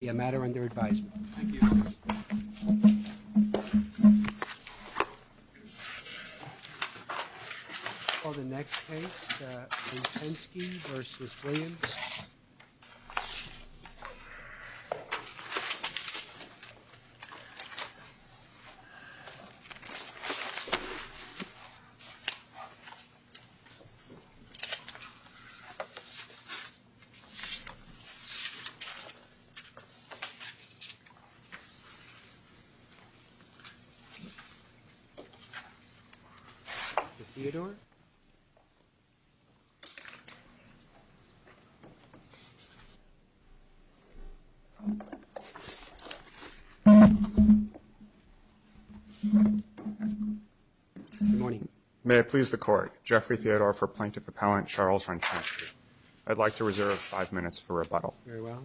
will be a matter under advisement. Thank you. On to the next place Ursеньkski vs Williams May I please the court Jeffrey Theodore for plaintiff appellant Charles Ursеньkski I'd like to reserve five minutes for rebuttal very well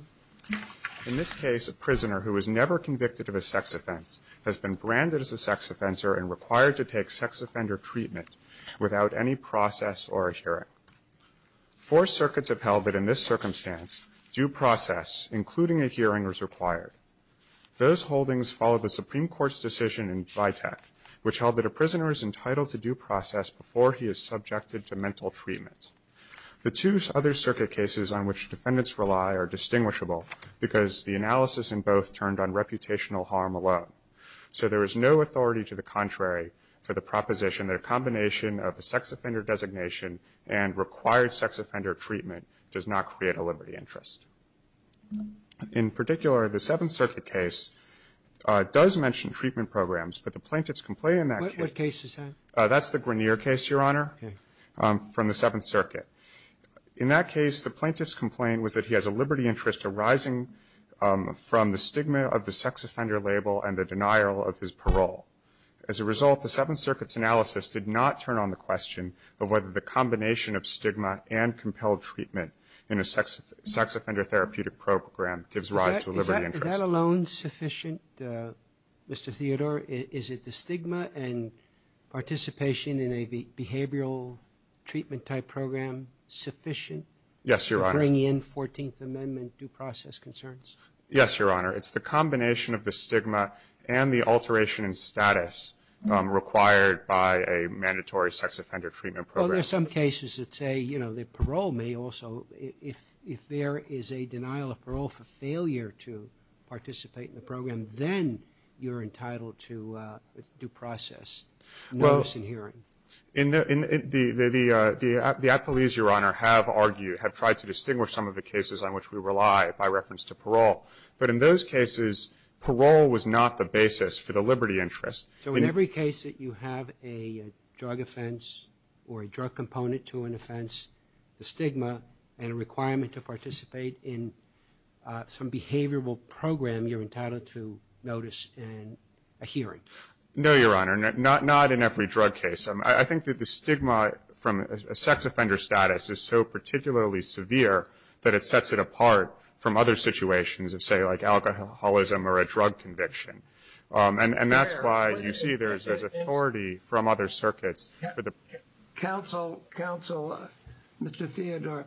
In this case a prisoner who was never convicted of a sex offense has been branded as a sex offender and required to take sex offender treatment without any process or a hearing. Four circuits have held that in this circumstance due process including a hearing is required. Those holdings follow the Supreme Court's decision in Vitek which held that a prisoner is entitled to due process before he is subjected to mental treatment. The two other circuit cases on which defendants rely are distinguishable because the analysis in both turned on reputational harm alone. So there is no authority to the contrary for the proposition that a combination of a sex offender designation and required sex offender treatment does not create a liberty interest. In particular the Seventh Circuit case does mention treatment programs but the plaintiff's complaint in that case is that that's the Grineer case. Your Honor from the Seventh Circuit in that case the plaintiff's complaint was that he has a liberty interest arising from the stigma of the sex offender label and the denial of his parole. As a result the Seventh Circuit's analysis did not turn on the question of whether the combination of stigma and compelled treatment in a sex sex offender therapeutic program gives rise to a liberty interest. Is that alone sufficient Mr. Theodore? Is it the stigma and participation in a behavioral treatment type program sufficient? Yes, Your Honor. To bring in 14th Amendment due process concerns? Yes, Your Honor. It's the combination of the stigma and the alteration in status required by a mandatory sex offender treatment program. Well, there are some cases that say, you know, that parole may also, if there is a denial of parole for failure to participate in the program, then you're entitled to due process notice and hearing. Well, the police, Your Honor, have argued, have tried to distinguish some of the cases on which we rely by reference to parole, but in those cases parole was not the basis for the liberty interest. So in every case that you have a drug offense or a drug component to an offense, the stigma and a requirement to participate in some behavioral program, you're entitled to notice and a hearing? No, Your Honor. Not in every drug case. I think that the stigma from a sex offender status is so particularly severe that it sets it apart from other situations of, say, like alcoholism or a drug conviction. And that's why you see there is authority from other circuits. Counsel, Counsel, Mr. Theodore,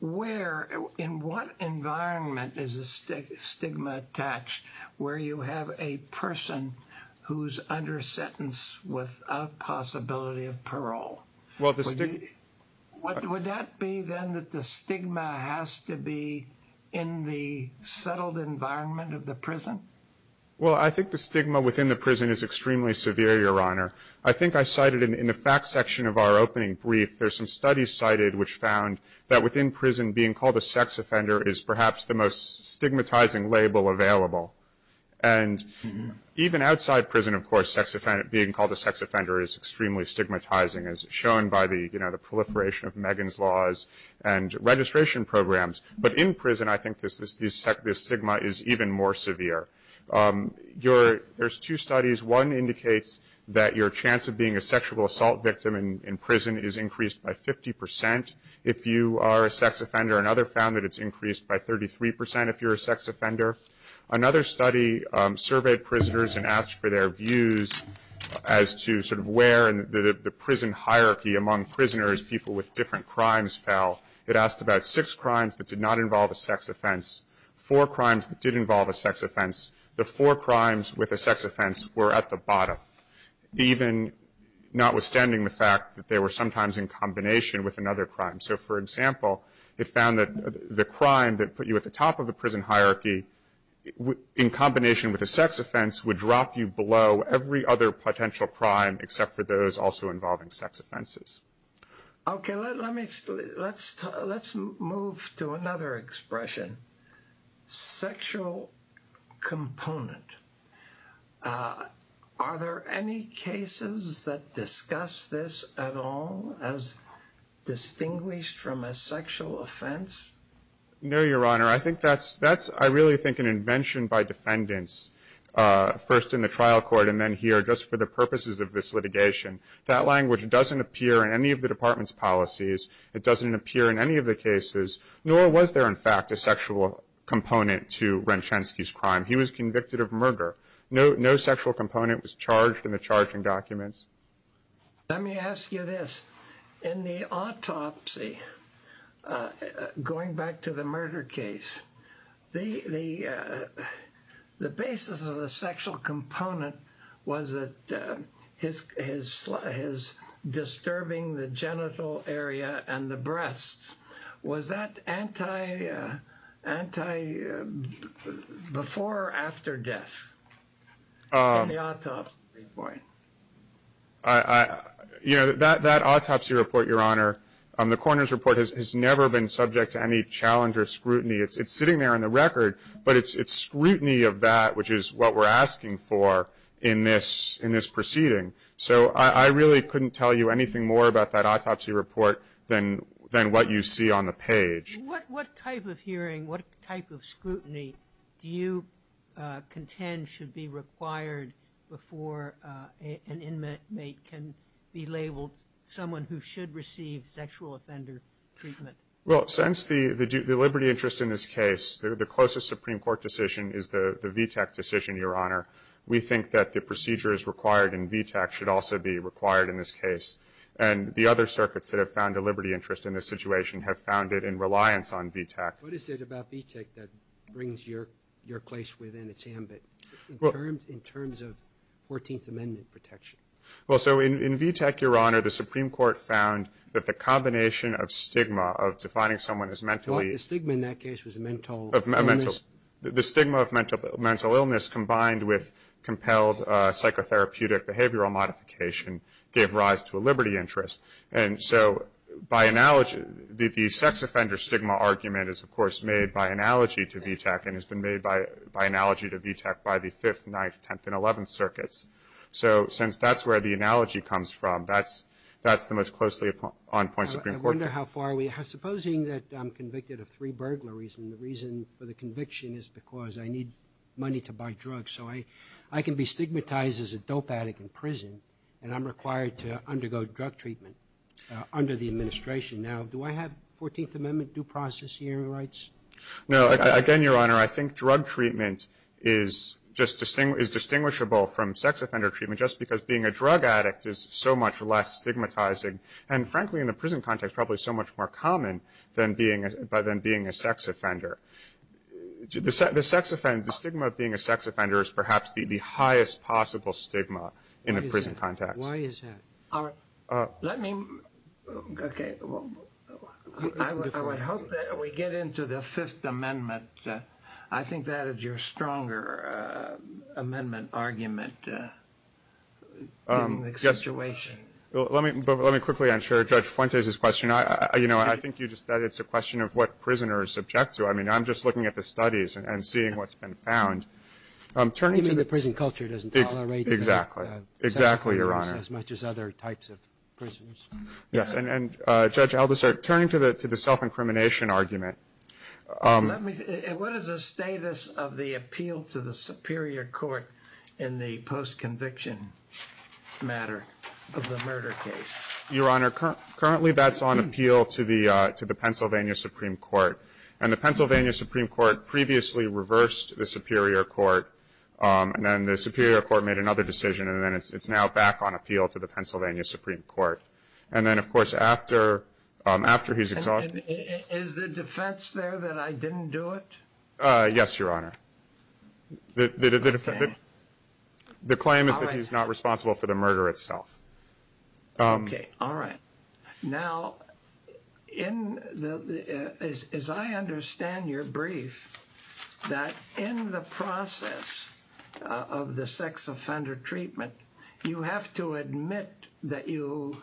where, in what environment is the stigma attached where you have a person who's under sentence without possibility of parole? Well, the stigma. Would that be then that the stigma has to be in the settled environment of the prison? Well, I think the stigma within the prison is extremely severe, Your Honor. I think I cited in the fact section of our opening brief, there's some studies cited which found that within prison being called a sex offender is perhaps the most stigmatizing label available. And even outside prison, of course, being called a sex offender is extremely stigmatizing, as shown by the proliferation of Megan's Laws and registration programs. But in prison, I think the stigma is even more severe. There's two studies. One indicates that your chance of being a sexual assault victim in prison is increased by 50% if you are a sex offender. Another found that it's increased by 33% if you're a sex offender. Another study surveyed prisoners and asked for their views as to sort of where the prison hierarchy among prisoners, people with different crimes, fell. It asked about six crimes that did not involve a sex offense, four crimes that did involve a sex offense. The four crimes with a sex offense were at the bottom, even notwithstanding the fact that they were sometimes in combination with another crime. So, for example, it found that the crime that put you at the top of the prison hierarchy in combination with a sex offense would drop you below every other potential crime except for those also involving sex offenses. Okay, let's move to another expression. Sexual component. Are there any cases that discuss this at all as distinguished from a sexual offense? No, Your Honor. I think that's, I really think, an invention by defendants, first in the trial court and then here just for the purposes of this litigation. That language doesn't appear in any of the department's policies. It doesn't appear in any of the cases, nor was there, in fact, a sexual component to Renchensky's crime. He was convicted of murder. No sexual component was charged in the charging documents. Let me ask you this. In the autopsy, going back to the murder case, the basis of the sexual component was that his disturbing the genital area. And the breasts was that anti, before or after death in the autopsy report? You know, that autopsy report, Your Honor, the coroner's report has never been subject to any challenge or scrutiny. It's sitting there on the record, but it's scrutiny of that, which is what we're asking for in this proceeding. So I really couldn't tell you anything more about that autopsy report than what you see on the page. What type of hearing, what type of scrutiny do you contend should be required before an inmate can be labeled someone who should receive sexual offender treatment? Well, since the liberty interest in this case, the closest Supreme Court decision is the VTAC decision, Your Honor. We think that the procedures required in VTAC should also be required in this case. And the other circuits that have found a liberty interest in this situation have found it in reliance on VTAC. What is it about VTAC that brings your place within its ambit in terms of 14th Amendment protection? Well, so in VTAC, Your Honor, the Supreme Court found that the combination of stigma of defining someone as mentally... The stigma in that case was mental illness? The stigma of mental illness combined with compelled psychotherapeutic behavioral modification gave rise to a liberty interest. And so by analogy, the sex offender stigma argument is, of course, made by analogy to VTAC and has been made by analogy to VTAC by the 5th, 9th, 10th, and 11th circuits. So since that's where the analogy comes from, that's the most closely on point Supreme Court... I wonder how far we have. Supposing that I'm convicted of three burglaries and the reason for the conviction is because I need money to buy drugs. So I can be stigmatized as a dope addict in prison and I'm required to undergo drug treatment under the administration. Now, do I have 14th Amendment due process hearing rights? No. Again, Your Honor, I think drug treatment is just distinguishable from sex offender treatment just because being a drug addict is so much less stigmatizing. And frankly, in the prison context, probably so much more common by than being a sex offender. The sex offender, the stigma of being a sex offender is perhaps the highest possible stigma in a prison context. Why is that? Let me... OK, well, I would hope that we get into the Fifth Amendment. I think that is your stronger amendment argument in this situation. Well, let me quickly answer Judge Fuentes' question. I think you just said it's a question of what prisoners object to. I mean, I'm just looking at the studies and seeing what's been found. Even the prison culture doesn't tolerate sex offenders as much as other types of prisoners. Yes. And Judge Albasert, turning to the self-incrimination argument. What is the status of the appeal to the Superior Court in the post-conviction matter of the murder case? Your Honor, currently that's on appeal to the Pennsylvania Supreme Court. And the Pennsylvania Supreme Court previously reversed the Superior Court. And then the Superior Court made another decision. And then it's now back on appeal to the Pennsylvania Supreme Court. And then, of course, after he's exonerated... Is the defense there that I didn't do it? Yes, Your Honor. The claim is that he's not responsible for the murder itself. All right. Now, as I understand your brief, that in the process of the sex offender treatment, you have to admit that you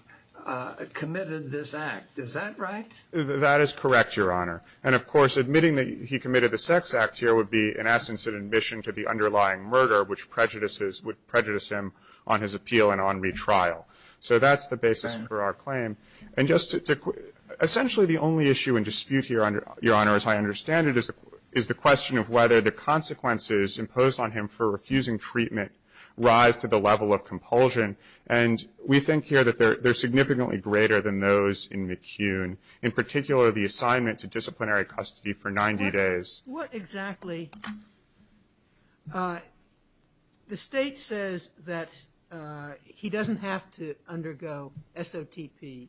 committed this act. Is that right? That is correct, Your Honor. And, of course, admitting that he committed the sex act here would be, in essence, an admission to the underlying murder, which prejudices would prejudice him on his appeal and on retrial. So that's the basis for our claim. And just essentially the only issue in dispute here, Your Honor, as I understand it, is the question of whether the consequences imposed on him for refusing treatment rise to the level of compulsion. And we think here that they're significantly greater than those in McCune. In particular, the assignment to disciplinary custody for 90 days. What exactly... The state says that he doesn't have to undergo SOTP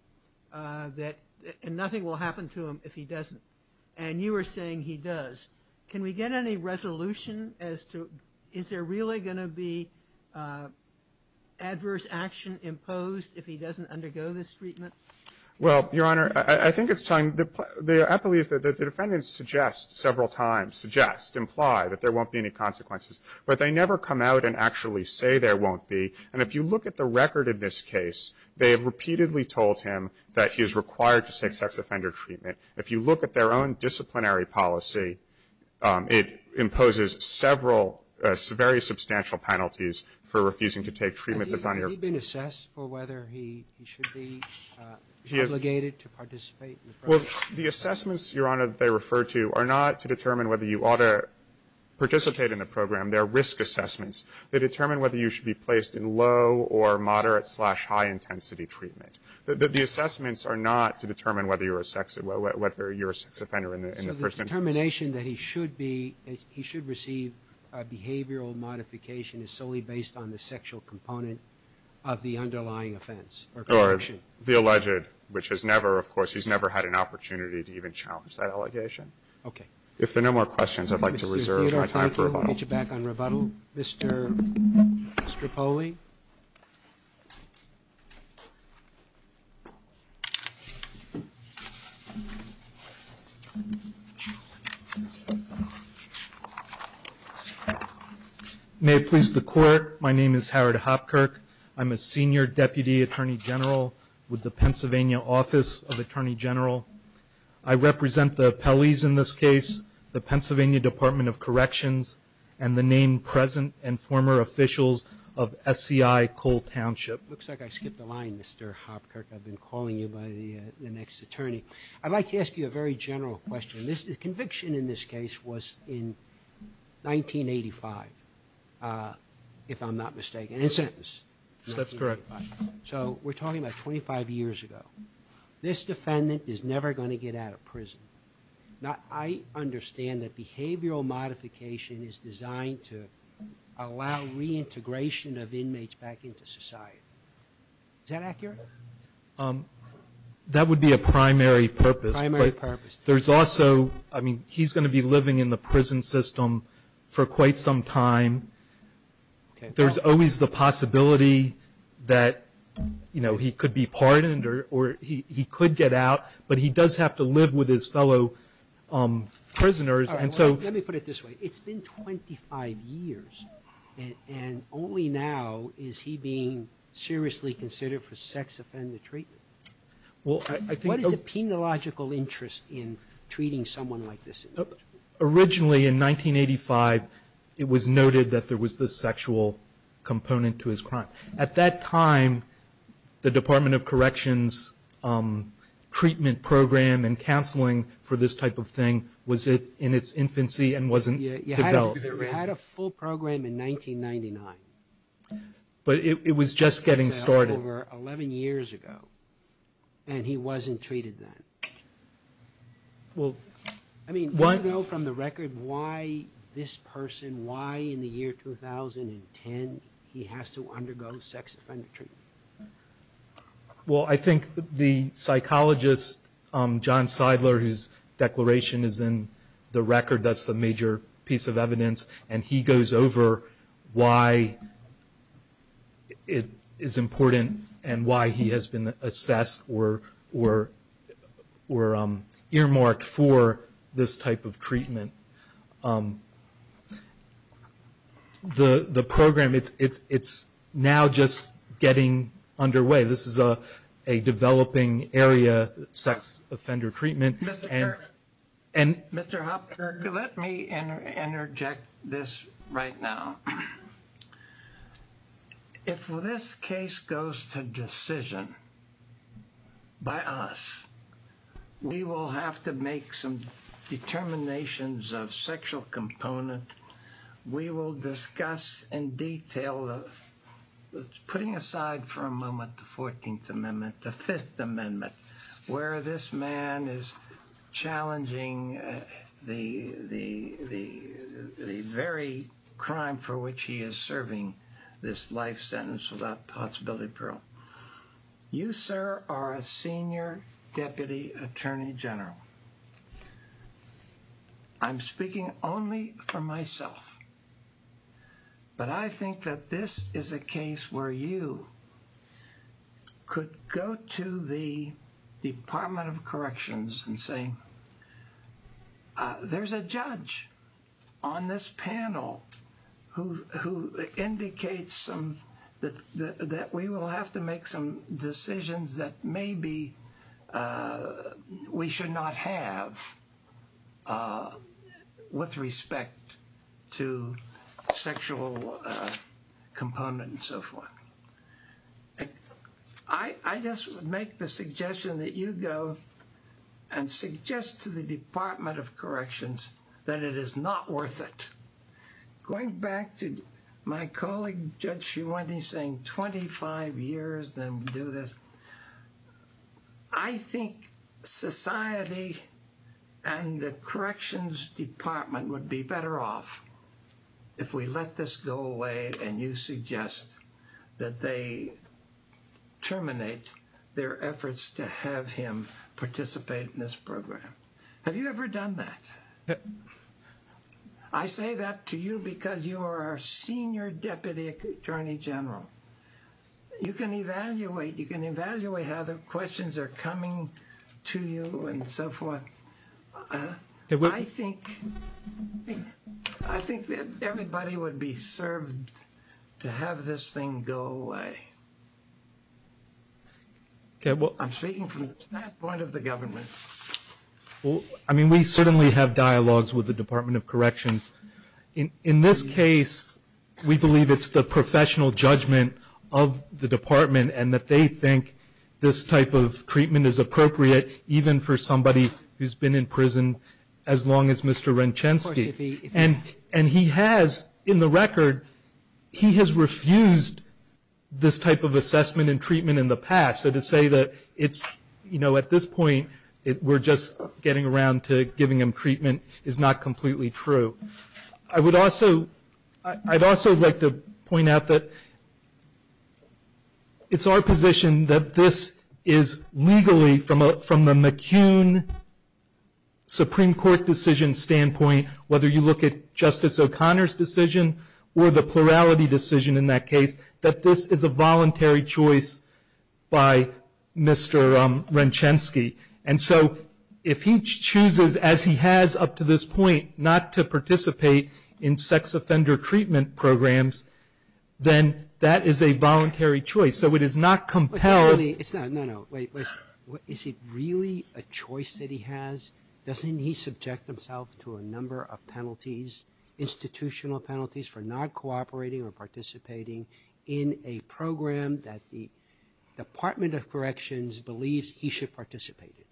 and nothing will happen to him if he doesn't. And you are saying he does. Can we get any resolution as to is there really going to be adverse action imposed if he doesn't undergo this treatment? Well, Your Honor, I think it's time. The appellees that the defendants suggest several times, suggest, imply that there won't be any consequences, but they never come out and actually say there won't be. And if you look at the record in this case, they have repeatedly told him that he is required to take sex offender treatment. If you look at their own disciplinary policy, it imposes several very substantial penalties for refusing to take treatment that's on your... Has he been assessed for whether he should be obligated to participate in the program? Well, the assessments, Your Honor, that they refer to are not to determine whether you ought to participate in the program. They're risk assessments. They determine whether you should be placed in low or moderate slash high intensity treatment. The assessments are not to determine whether you're a sex offender in the first instance. The determination that he should be, he should receive a behavioral modification is solely based on the sexual component of the underlying offense or conviction? The alleged, which has never, of course, he's never had an opportunity to even challenge that allegation. Okay. If there are no more questions, I'd like to reserve my time for rebuttal. We'll get you back on rebuttal. Mr. Poli? May it please the court, my name is Howard Hopkirk. I'm a senior deputy attorney general with the Pennsylvania Office of Attorney General. I represent the appellees in this case, the Pennsylvania Department of Corrections, and the name present and former officials of SCI Cole Township. Looks like I skipped a line, Mr. Hopkirk. I've been calling you by the next attorney. I'd like to ask you a very general question. The conviction in this case was in 1985, if I'm not mistaken, in a sentence. That's correct. So we're talking about 25 years ago. This defendant is never going to get out of prison. Now, I understand that behavioral modification is designed to allow reintegration of inmates back into society. That would be a primary purpose. Primary purpose. There's also, I mean, he's going to be living in the prison system for quite some time. There's always the possibility that, you know, he could be pardoned or he could get out, but he does have to live with his fellow prisoners. And so let me put it this way. It's been 25 years and only now is he being seriously considered for sex-offended treatment. What is the penological interest in treating someone like this? Originally, in 1985, it was noted that there was this sexual component to his crime. At that time, the Department of Corrections treatment program and counseling for this type of thing was in its infancy and wasn't developed. You had a full program in 1999. But it was just getting started. It was over 11 years ago and he wasn't treated then. I mean, do you know from the record why this person, why in the year 2010, he has to undergo sex-offended treatment? Well, I think the psychologist, John Seidler, whose declaration is in the record, that's the major piece of evidence. And he goes over why it is important and why he has been assessed or earmarked for this type of treatment. The program, it's now just getting underway. This is a developing area, sex-offender treatment. Mr. Kirk, let me interject this right now. If this case goes to decision by us, we will have to make some determinations of sexual component. We will discuss in detail, putting aside for a moment the 14th Amendment, the Fifth Amendment, where this man is challenging the very crime for which he is serving this life sentence without possibility of parole. You, sir, are a senior deputy attorney general. I'm speaking only for myself. But I think that this is a case where you could go to the Department of Corrections and say, there's a judge on this panel who indicates that we will have to make some decisions that maybe we should not have with respect to sexual components and so forth. I just would make the suggestion that you go and suggest to the Department of Corrections that it is not worth it. Going back to my colleague, Judge Schuette, saying 25 years, then do this. I think society and the Corrections Department would be better off if we let this go away and you suggest that they terminate their efforts to have him participate in this program. Have you ever done that? I say that to you because you are a senior deputy attorney general. You can evaluate how the questions are coming to you and so forth. I think that everybody would be served to have this thing go away. I'm speaking from the standpoint of the government. We certainly have dialogues with the Department of Corrections. In this case, we believe it's the professional judgment of the Department and that they think this type of treatment is appropriate even for somebody who has been in prison as long as Mr. Renchensky. In the record, he has refused this type of assessment and treatment in the past. To say that at this point, we're just getting around to giving him treatment is not completely true. I would also like to point out that it's our position that this is legally, from the McCune Supreme Court decision standpoint, whether you look at Justice O'Connor's decision or the plurality decision in that case, that this is a voluntary choice by Mr. Renchensky. If he chooses, as he has up to this point, not to participate in sex offender treatment programs, then that is a voluntary choice. It is not compelled. Is it really a choice that he has? Doesn't he subject himself to a number of penalties, institutional penalties, for not cooperating or participating in a program that the Department of Corrections believes he should participate in?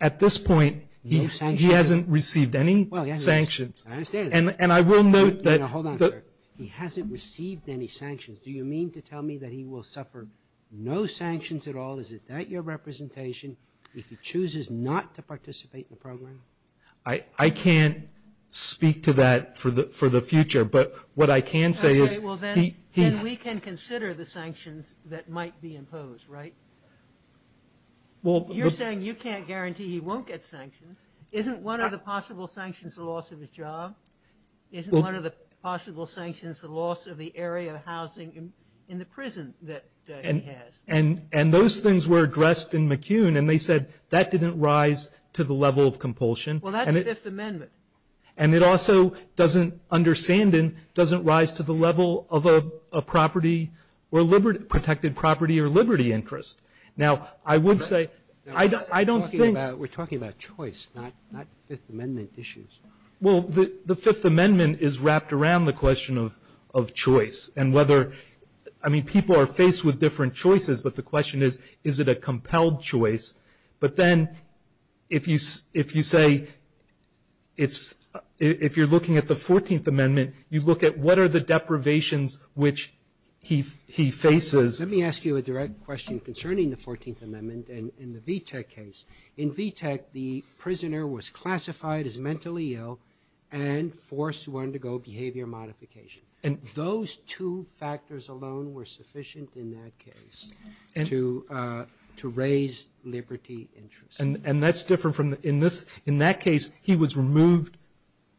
At this point, he hasn't received any sanctions. Hold on, sir. He hasn't received any sanctions. Do you mean to tell me that he will suffer no sanctions at all? Is that your representation, if he chooses not to participate in the program? I can't speak to that for the future. Then we can consider the sanctions that might be imposed, right? You're saying you can't guarantee he won't get sanctions. Isn't one of the possible sanctions the loss of his job? Isn't one of the possible sanctions the loss of the area of housing in the prison that he has? And those things were addressed in McCune, and they said that didn't rise to the level of compulsion. Well, that's the Fifth Amendment. And it also doesn't, under Sandin, doesn't rise to the level of a property or protected property or liberty interest. Now, I would say, I don't think we're talking about choice, not Fifth Amendment issues. Well, the Fifth Amendment is wrapped around the question of choice and whether, I mean, people are faced with different choices, but the question is, is it a compelled choice? But then if you say it's, if you're looking at the 14th Amendment, you look at what are the deprivations which he faces. Let me ask you a direct question concerning the 14th Amendment and the VTAC case. In VTAC, the prisoner was classified as mentally ill and forced to undergo behavior modification. And those two factors alone were sufficient in that case to raise liberty interest. And that's different from, in that case, he was removed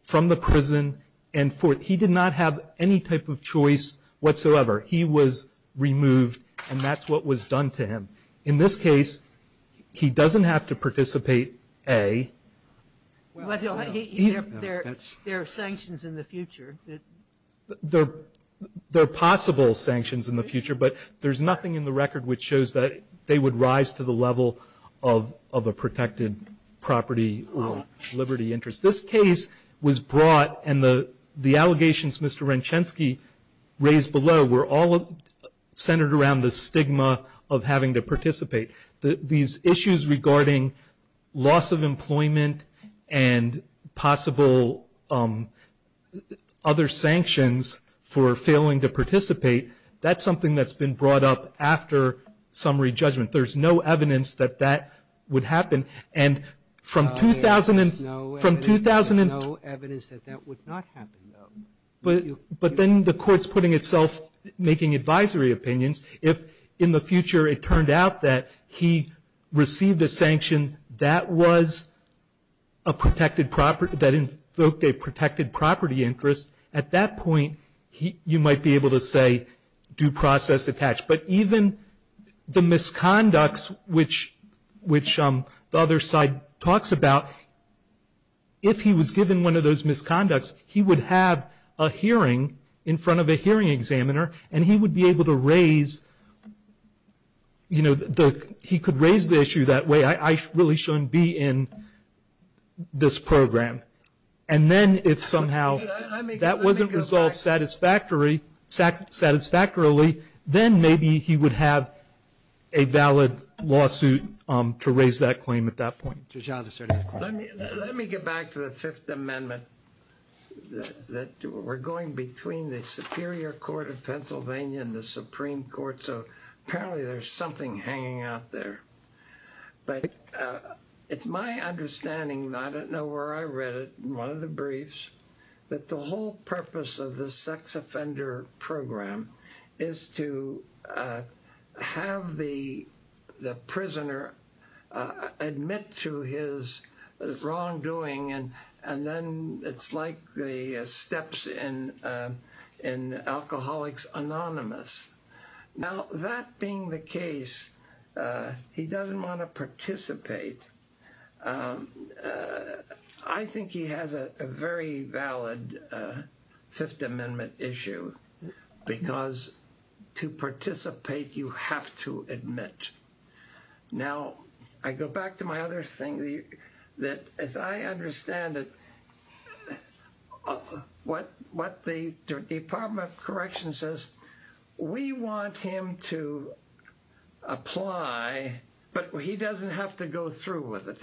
from the prison and he did not have any type of choice whatsoever. He was removed, and that's what was done to him. In this case, he doesn't have to participate, A. There are possible sanctions in the future, but there's nothing in the record which shows that they would rise to the level of a protected property or liberty interest. This case was brought, and the allegations Mr. Renchensky raised below were all centered around the stigma of having to participate. These issues regarding loss of employment and possible other sanctions, for failing to participate, that's something that's been brought up after summary judgment. There's no evidence that that would happen. And from 2000 and no evidence that that would not happen. But then the court's putting itself making advisory opinions. If in the future it turned out that he received a sanction that was a protected property, that invoked a protected property interest, at that point you might be able to say due process attached. But even the misconducts, which the other side talks about, if he was given one of those misconducts, he would have a hearing in front of a hearing examiner, and he would be able to raise, you know, he could raise the issue that way, I really shouldn't be in this program. And then if somehow that wasn't resolved satisfactorily, then maybe he would have a valid lawsuit to raise that claim at that point. Let me get back to the Fifth Amendment. We're going between the Superior Court of Pennsylvania and the Supreme Court, so apparently there's something hanging out there. But it's my understanding, I don't know where I read it, in one of the briefs, that the whole purpose of the sex offender program is to have the prisoner admit to his wrongdoing, and then it's like the steps in Alcoholics Anonymous. Now, that being the case, he doesn't want to participate. I think he has a very valid Fifth Amendment issue, Now, I go back to my other thing, that as I understand it, what the Department of Corrections says, we want him to apply, but he doesn't have to go through with it.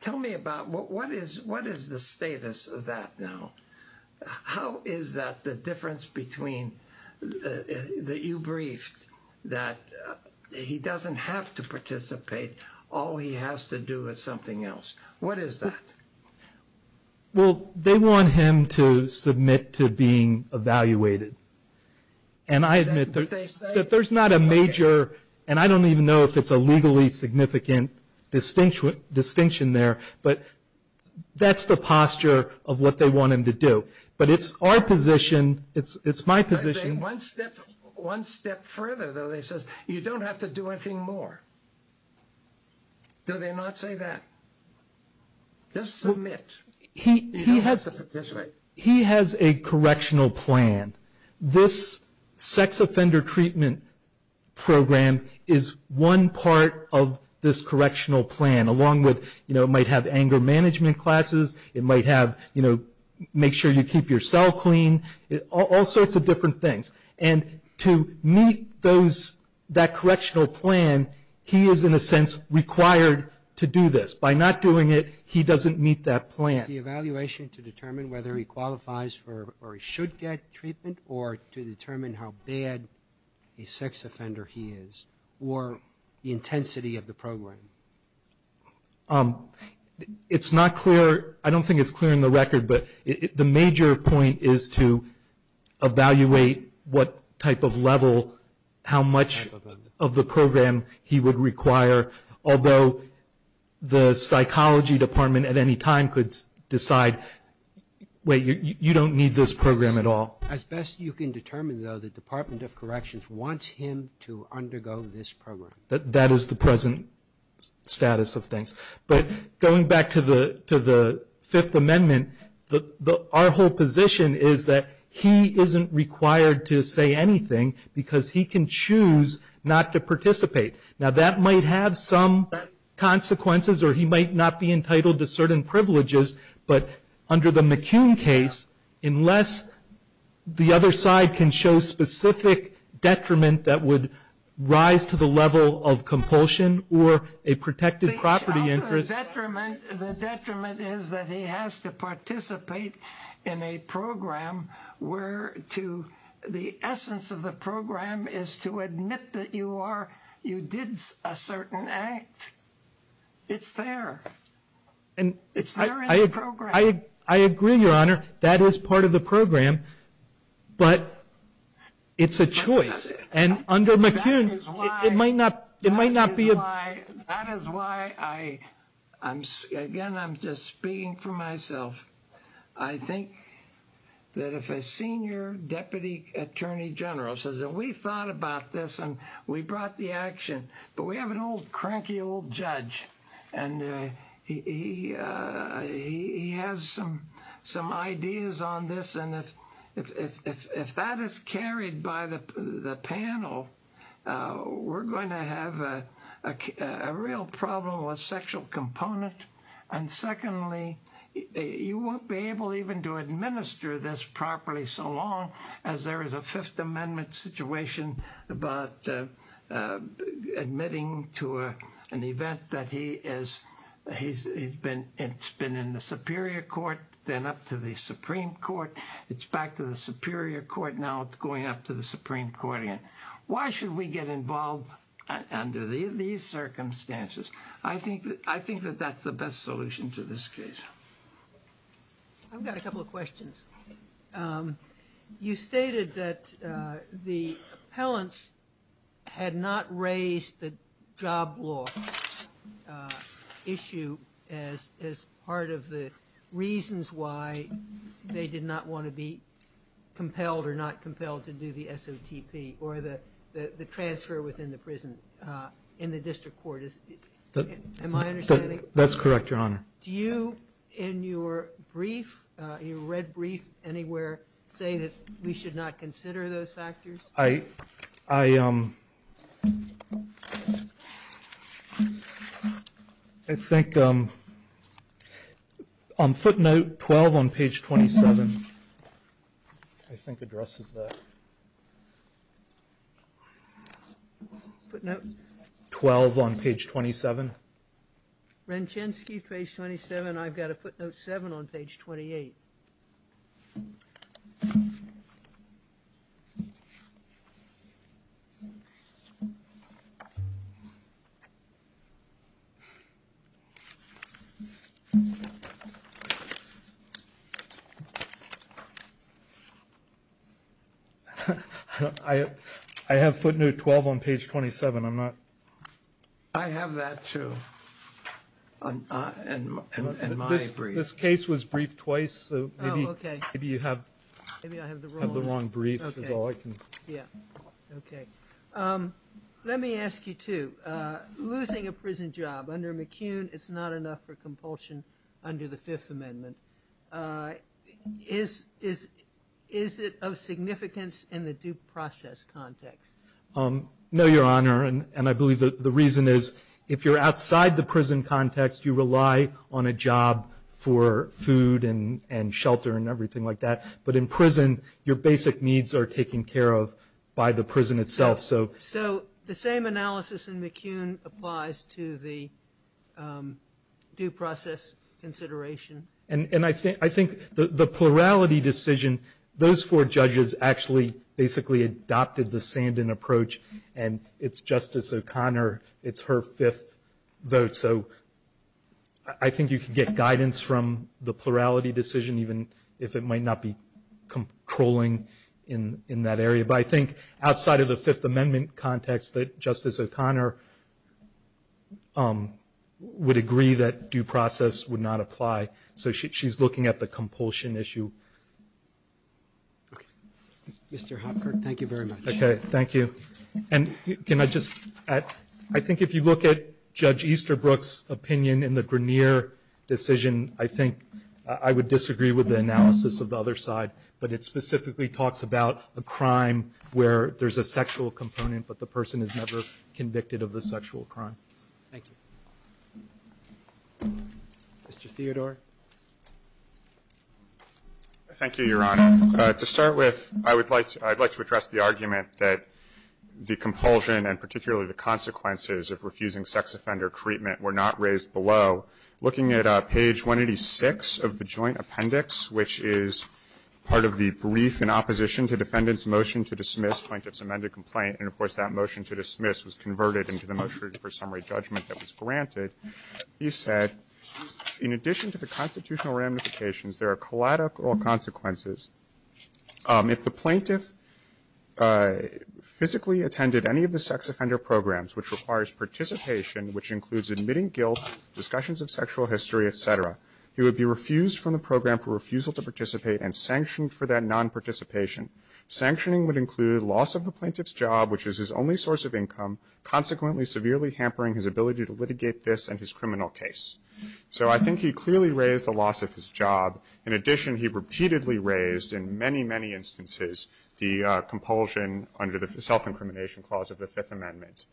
Tell me about, what is the status of that now? How is that, the difference between, that you briefed, that he doesn't have to participate, all he has to do is something else. What is that? Well, they want him to submit to being evaluated. And I admit that there's not a major, and I don't even know if it's a legally significant distinction there, but that's the posture of what they want him to do. But it's our position, it's my position. One step further though, they say, you don't have to do anything more. Do they not say that? Just submit. He has a correctional plan. This sex offender treatment program is one part of this correctional plan, along with, you know, it might have anger management classes, it might have, you know, make sure you keep your cell clean, all sorts of different things. And to meet those, that correctional plan, he is in a sense required to do this. By not doing it, he doesn't meet that plan. It's the evaluation to determine whether he qualifies for, or he should get treatment, or to determine how bad a sex offender he is, or the intensity of the program. It's not clear, I don't think it's clear in the record, but the major point is to evaluate what type of level, how much of the program he would require, although the psychology department at any time could decide, wait, you don't need this program at all. As best you can determine though, the Department of Corrections wants him to undergo this program. That is the present status of things. But going back to the Fifth Amendment, our whole position is that he isn't required to say anything, because he can choose not to participate. Now that might have some consequences, or he might not be entitled to certain privileges, but under the McCune case, unless the other side can show specific detriment that would rise to the level of compulsion, or a protected property interest. The detriment is that he has to participate in a program where the essence of the program is to admit that you did a certain act. It's there. It's there in the program. I agree, Your Honor. That is part of the program, but it's a choice. And under McCune, it might not be. That is why, again, I'm just speaking for myself. I think that if a senior deputy attorney general says, we thought about this and we brought the action, but we have an old cranky old judge, and he has some ideas on this, and if that is carried by the panel, we're going to have a real problem with sexual component. And secondly, you won't be able even to administer this properly so long as there is a Fifth Amendment situation about admitting to an event that he has been in the Superior Court, then up to the Supreme Court. It's back to the Superior Court now. It's going up to the Supreme Court again. Why should we get involved under these circumstances? I think that that's the best solution to this case. I've got a couple of questions. You stated that the appellants had not raised the job law issue as part of the reasons why they did not want to be compelled or not compelled to do the SOTP or the transfer within the prison in the district court. That's correct, Your Honor. Do you, in your brief, your red brief anywhere, say that we should not consider those factors? I think on footnote 12 on page 27, I think addresses that. Footnote? 12 on page 27. Renchensky, page 27. I've got a footnote 7 on page 28. I have footnote 12 on page 27. I have that, too, in my brief. This case was briefed twice, so maybe you have the wrong brief. Let me ask you, too. Losing a prison job under McCune is not enough for compulsion under the Fifth Amendment. Is it of significance in the due process context? No, Your Honor. And I believe the reason is if you're outside the prison context, you rely on a job for food and shelter and everything like that. But in prison, your basic needs are taken care of by the prison itself. So the same analysis in McCune applies to the due process consideration? And I think the plurality decision, those four judges actually basically adopted the Sandin approach, and it's Justice O'Connor, it's her fifth vote. So I think you can get guidance from the plurality decision, even if it might not be controlling in that area. But I think outside of the Fifth Amendment context, that Justice O'Connor would agree that due process would not apply. So she's looking at the compulsion issue. Okay. Mr. Hopkirk, thank you very much. Okay, thank you. And can I just add, I think if you look at Judge Easterbrook's opinion in the Grenier decision, I think I would disagree with the analysis of the other side, but it specifically talks about a crime where there's a sexual component but the person is never convicted of the sexual crime. Thank you. Mr. Theodore. Thank you, Your Honor. To start with, I would like to address the argument that the compulsion and particularly the consequences of refusing sex offender treatment were not raised below. Looking at page 186 of the joint appendix, which is part of the brief in opposition to defendant's motion to dismiss plaintiff's amended complaint, and of course, that motion to dismiss was converted into the motion for summary judgment that was granted, he said, in addition to the constitutional ramifications, there are collateral consequences. If the plaintiff physically attended any of the sex offender programs, which requires participation, which includes admitting guilt, discussions of sexual history, et cetera, he would be refused from the program for refusal to participate and sanctioned for that nonparticipation. Sanctioning would include loss of the plaintiff's job, which is his only source of income, consequently severely hampering his ability to litigate this and his criminal case. So I think he clearly raised the loss of his job. In addition, he repeatedly raised in many, many instances the compulsion under the self-incrimination clause of the Fifth Amendment.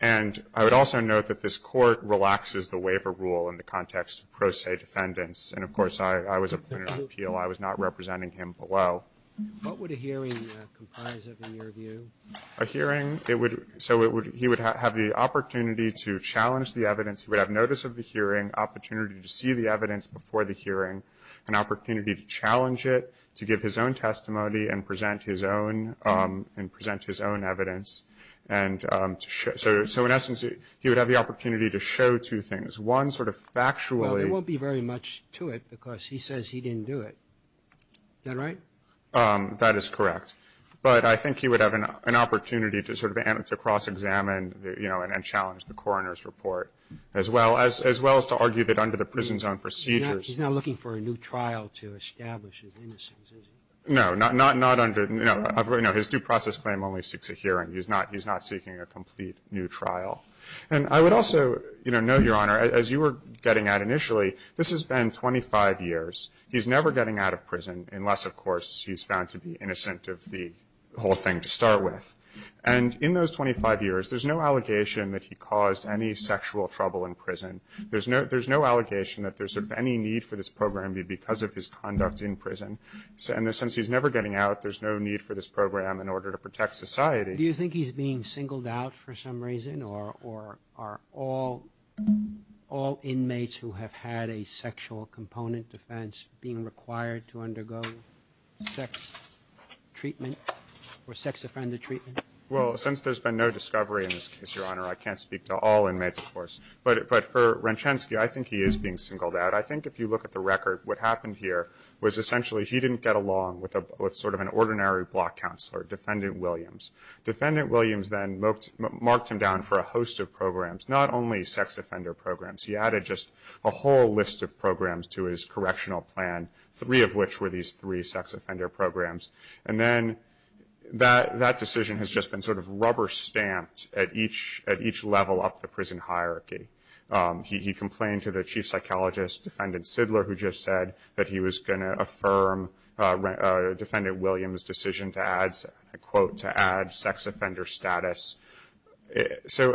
And I would also note that this Court relaxes the waiver rule in the context of pro se defendants. And of course, I was appointed on appeal. I was not representing him below. What would a hearing comprise of, in your view? A hearing, it would so it would he would have the opportunity to challenge the evidence. He would have notice of the hearing, opportunity to see the evidence before the hearing, an opportunity to challenge it, to give his own testimony and present his own and present his own evidence. And so in essence, he would have the opportunity to show two things. One sort of factually. Well, there won't be very much to it because he says he didn't do it. Is that right? That is correct. But I think he would have an opportunity to sort of cross-examine, you know, and challenge the coroner's report, as well as to argue that under the prison's own procedures. He's not looking for a new trial to establish his innocence, is he? No. Not under, you know, his due process claim only seeks a hearing. He's not seeking a complete new trial. And I would also, you know, note, Your Honor, as you were getting at initially, this has been 25 years. He's never getting out of prison unless, of course, he's found to be innocent of the whole thing to start with. And in those 25 years, there's no allegation that he caused any sexual trouble in prison. There's no allegation that there's any need for this program because of his conduct in prison. So in the sense he's never getting out, there's no need for this program in order to protect society. Do you think he's being singled out for some reason? Or are all inmates who have had a sexual component defense being required to undergo sex treatment or sex offender treatment? Well, since there's been no discovery in this case, Your Honor, I can't speak to all inmates, of course. But for Renchensky, I think he is being singled out. I think if you look at the record, what happened here was essentially he didn't get along with sort of an ordinary block counselor, Defendant Williams. Defendant Williams then marked him down for a host of programs, not only sex offender programs. He added just a whole list of programs to his correctional plan, three of which were these three sex offender programs. And then that decision has just been sort of rubber stamped at each level up the prison hierarchy. He complained to the chief psychologist, Defendant Sidler, who just said that he was going to affirm Defendant Williams' decision to add sex offender status. So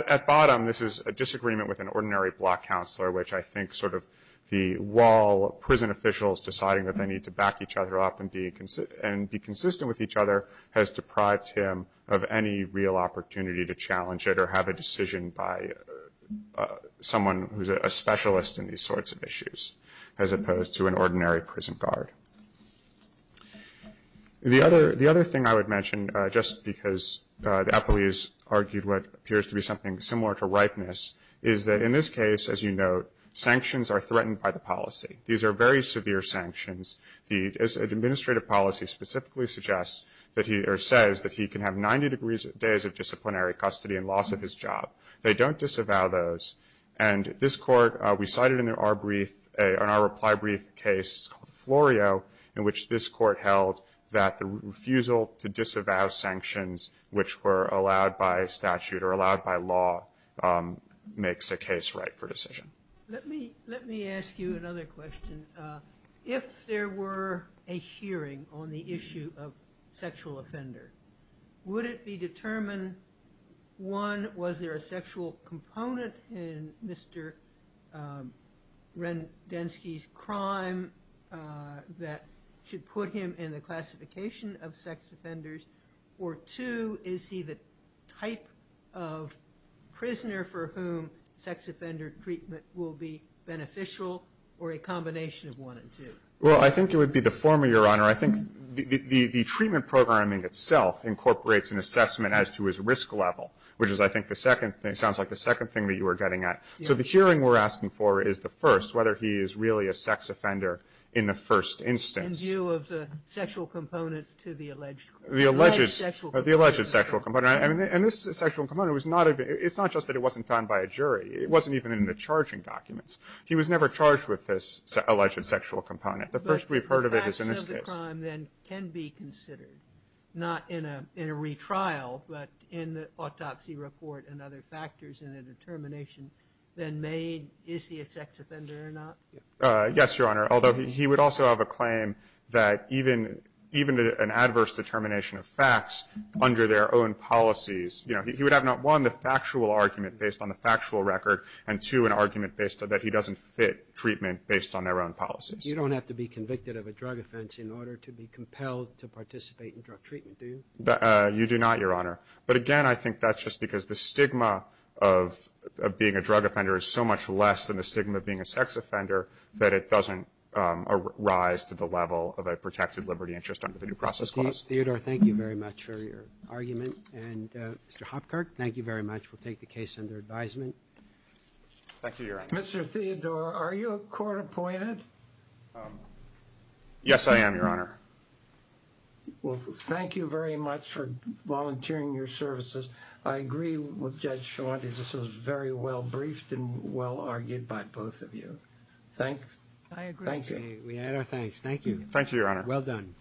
at bottom, this is a disagreement with an ordinary block counselor, which I think sort of the wall of prison officials deciding that they need to back each other up and be consistent with each other has deprived him of any real opportunity to challenge it or have a decision by someone who's a specialist in these sorts of issues, as opposed to an ordinary prison guard. The other thing I would mention, just because the appellees argued what appears to be something similar to ripeness, is that in this case, as you note, sanctions are threatened by the policy. These are very severe sanctions. The administrative policy specifically suggests or says that he can have 90 days of disciplinary custody and loss of his job. They don't disavow those. And this court, we cited in our reply brief a case called Florio, in which this court held that the refusal to disavow sanctions, which were allowed by statute or allowed by law, makes a case right for decision. Let me ask you another question. If there were a hearing on the issue of sexual offender, would it be determined, one, was there a sexual component in Mr. Rendensky's crime that should put him in the classification of sex offenders, or two, is he the type of prisoner for whom sex offender treatment will be beneficial or a combination of one and two? Well, I think it would be the former, Your Honor. I think the treatment programming itself incorporates an assessment as to his risk level, which is, I think, the second thing, sounds like the second thing that you were getting at. So the hearing we're asking for is the first, whether he is really a sex offender in the first instance. In view of the sexual component to the alleged sexual component. The alleged sexual component. And this sexual component was not even, it's not just that it wasn't found by a jury. It wasn't even in the charging documents. He was never charged with this alleged sexual component. The first we've heard of it is in this case. But the facts of the crime then can be considered, not in a retrial, but in the autopsy report and other factors in the determination, then made, is he a sex offender or not? Yes, Your Honor. Although he would also have a claim that even an adverse determination of facts under their own policies, you know, he would have not one, the factual argument based on the factual record, and two, an argument that he doesn't fit treatment based on their own policies. You don't have to be convicted of a drug offense in order to be compelled to participate in drug treatment, do you? You do not, Your Honor. But again, I think that's just because the stigma of being a drug offender is so much less than the stigma of being a sex offender that it doesn't rise to the level of a protected liberty interest under the new process clause. Theodore, thank you very much for your argument. And Mr. Hopkirk, thank you very much. We'll take the case under advisement. Thank you, Your Honor. Mr. Theodore, are you a court appointed? Yes, I am, Your Honor. Well, thank you very much for volunteering your services. I agree with Judge Schuante. This was very well briefed and well argued by both of you. Thanks. I agree. Thank you. We add our thanks. Thank you. Thank you, Your Honor. Well done.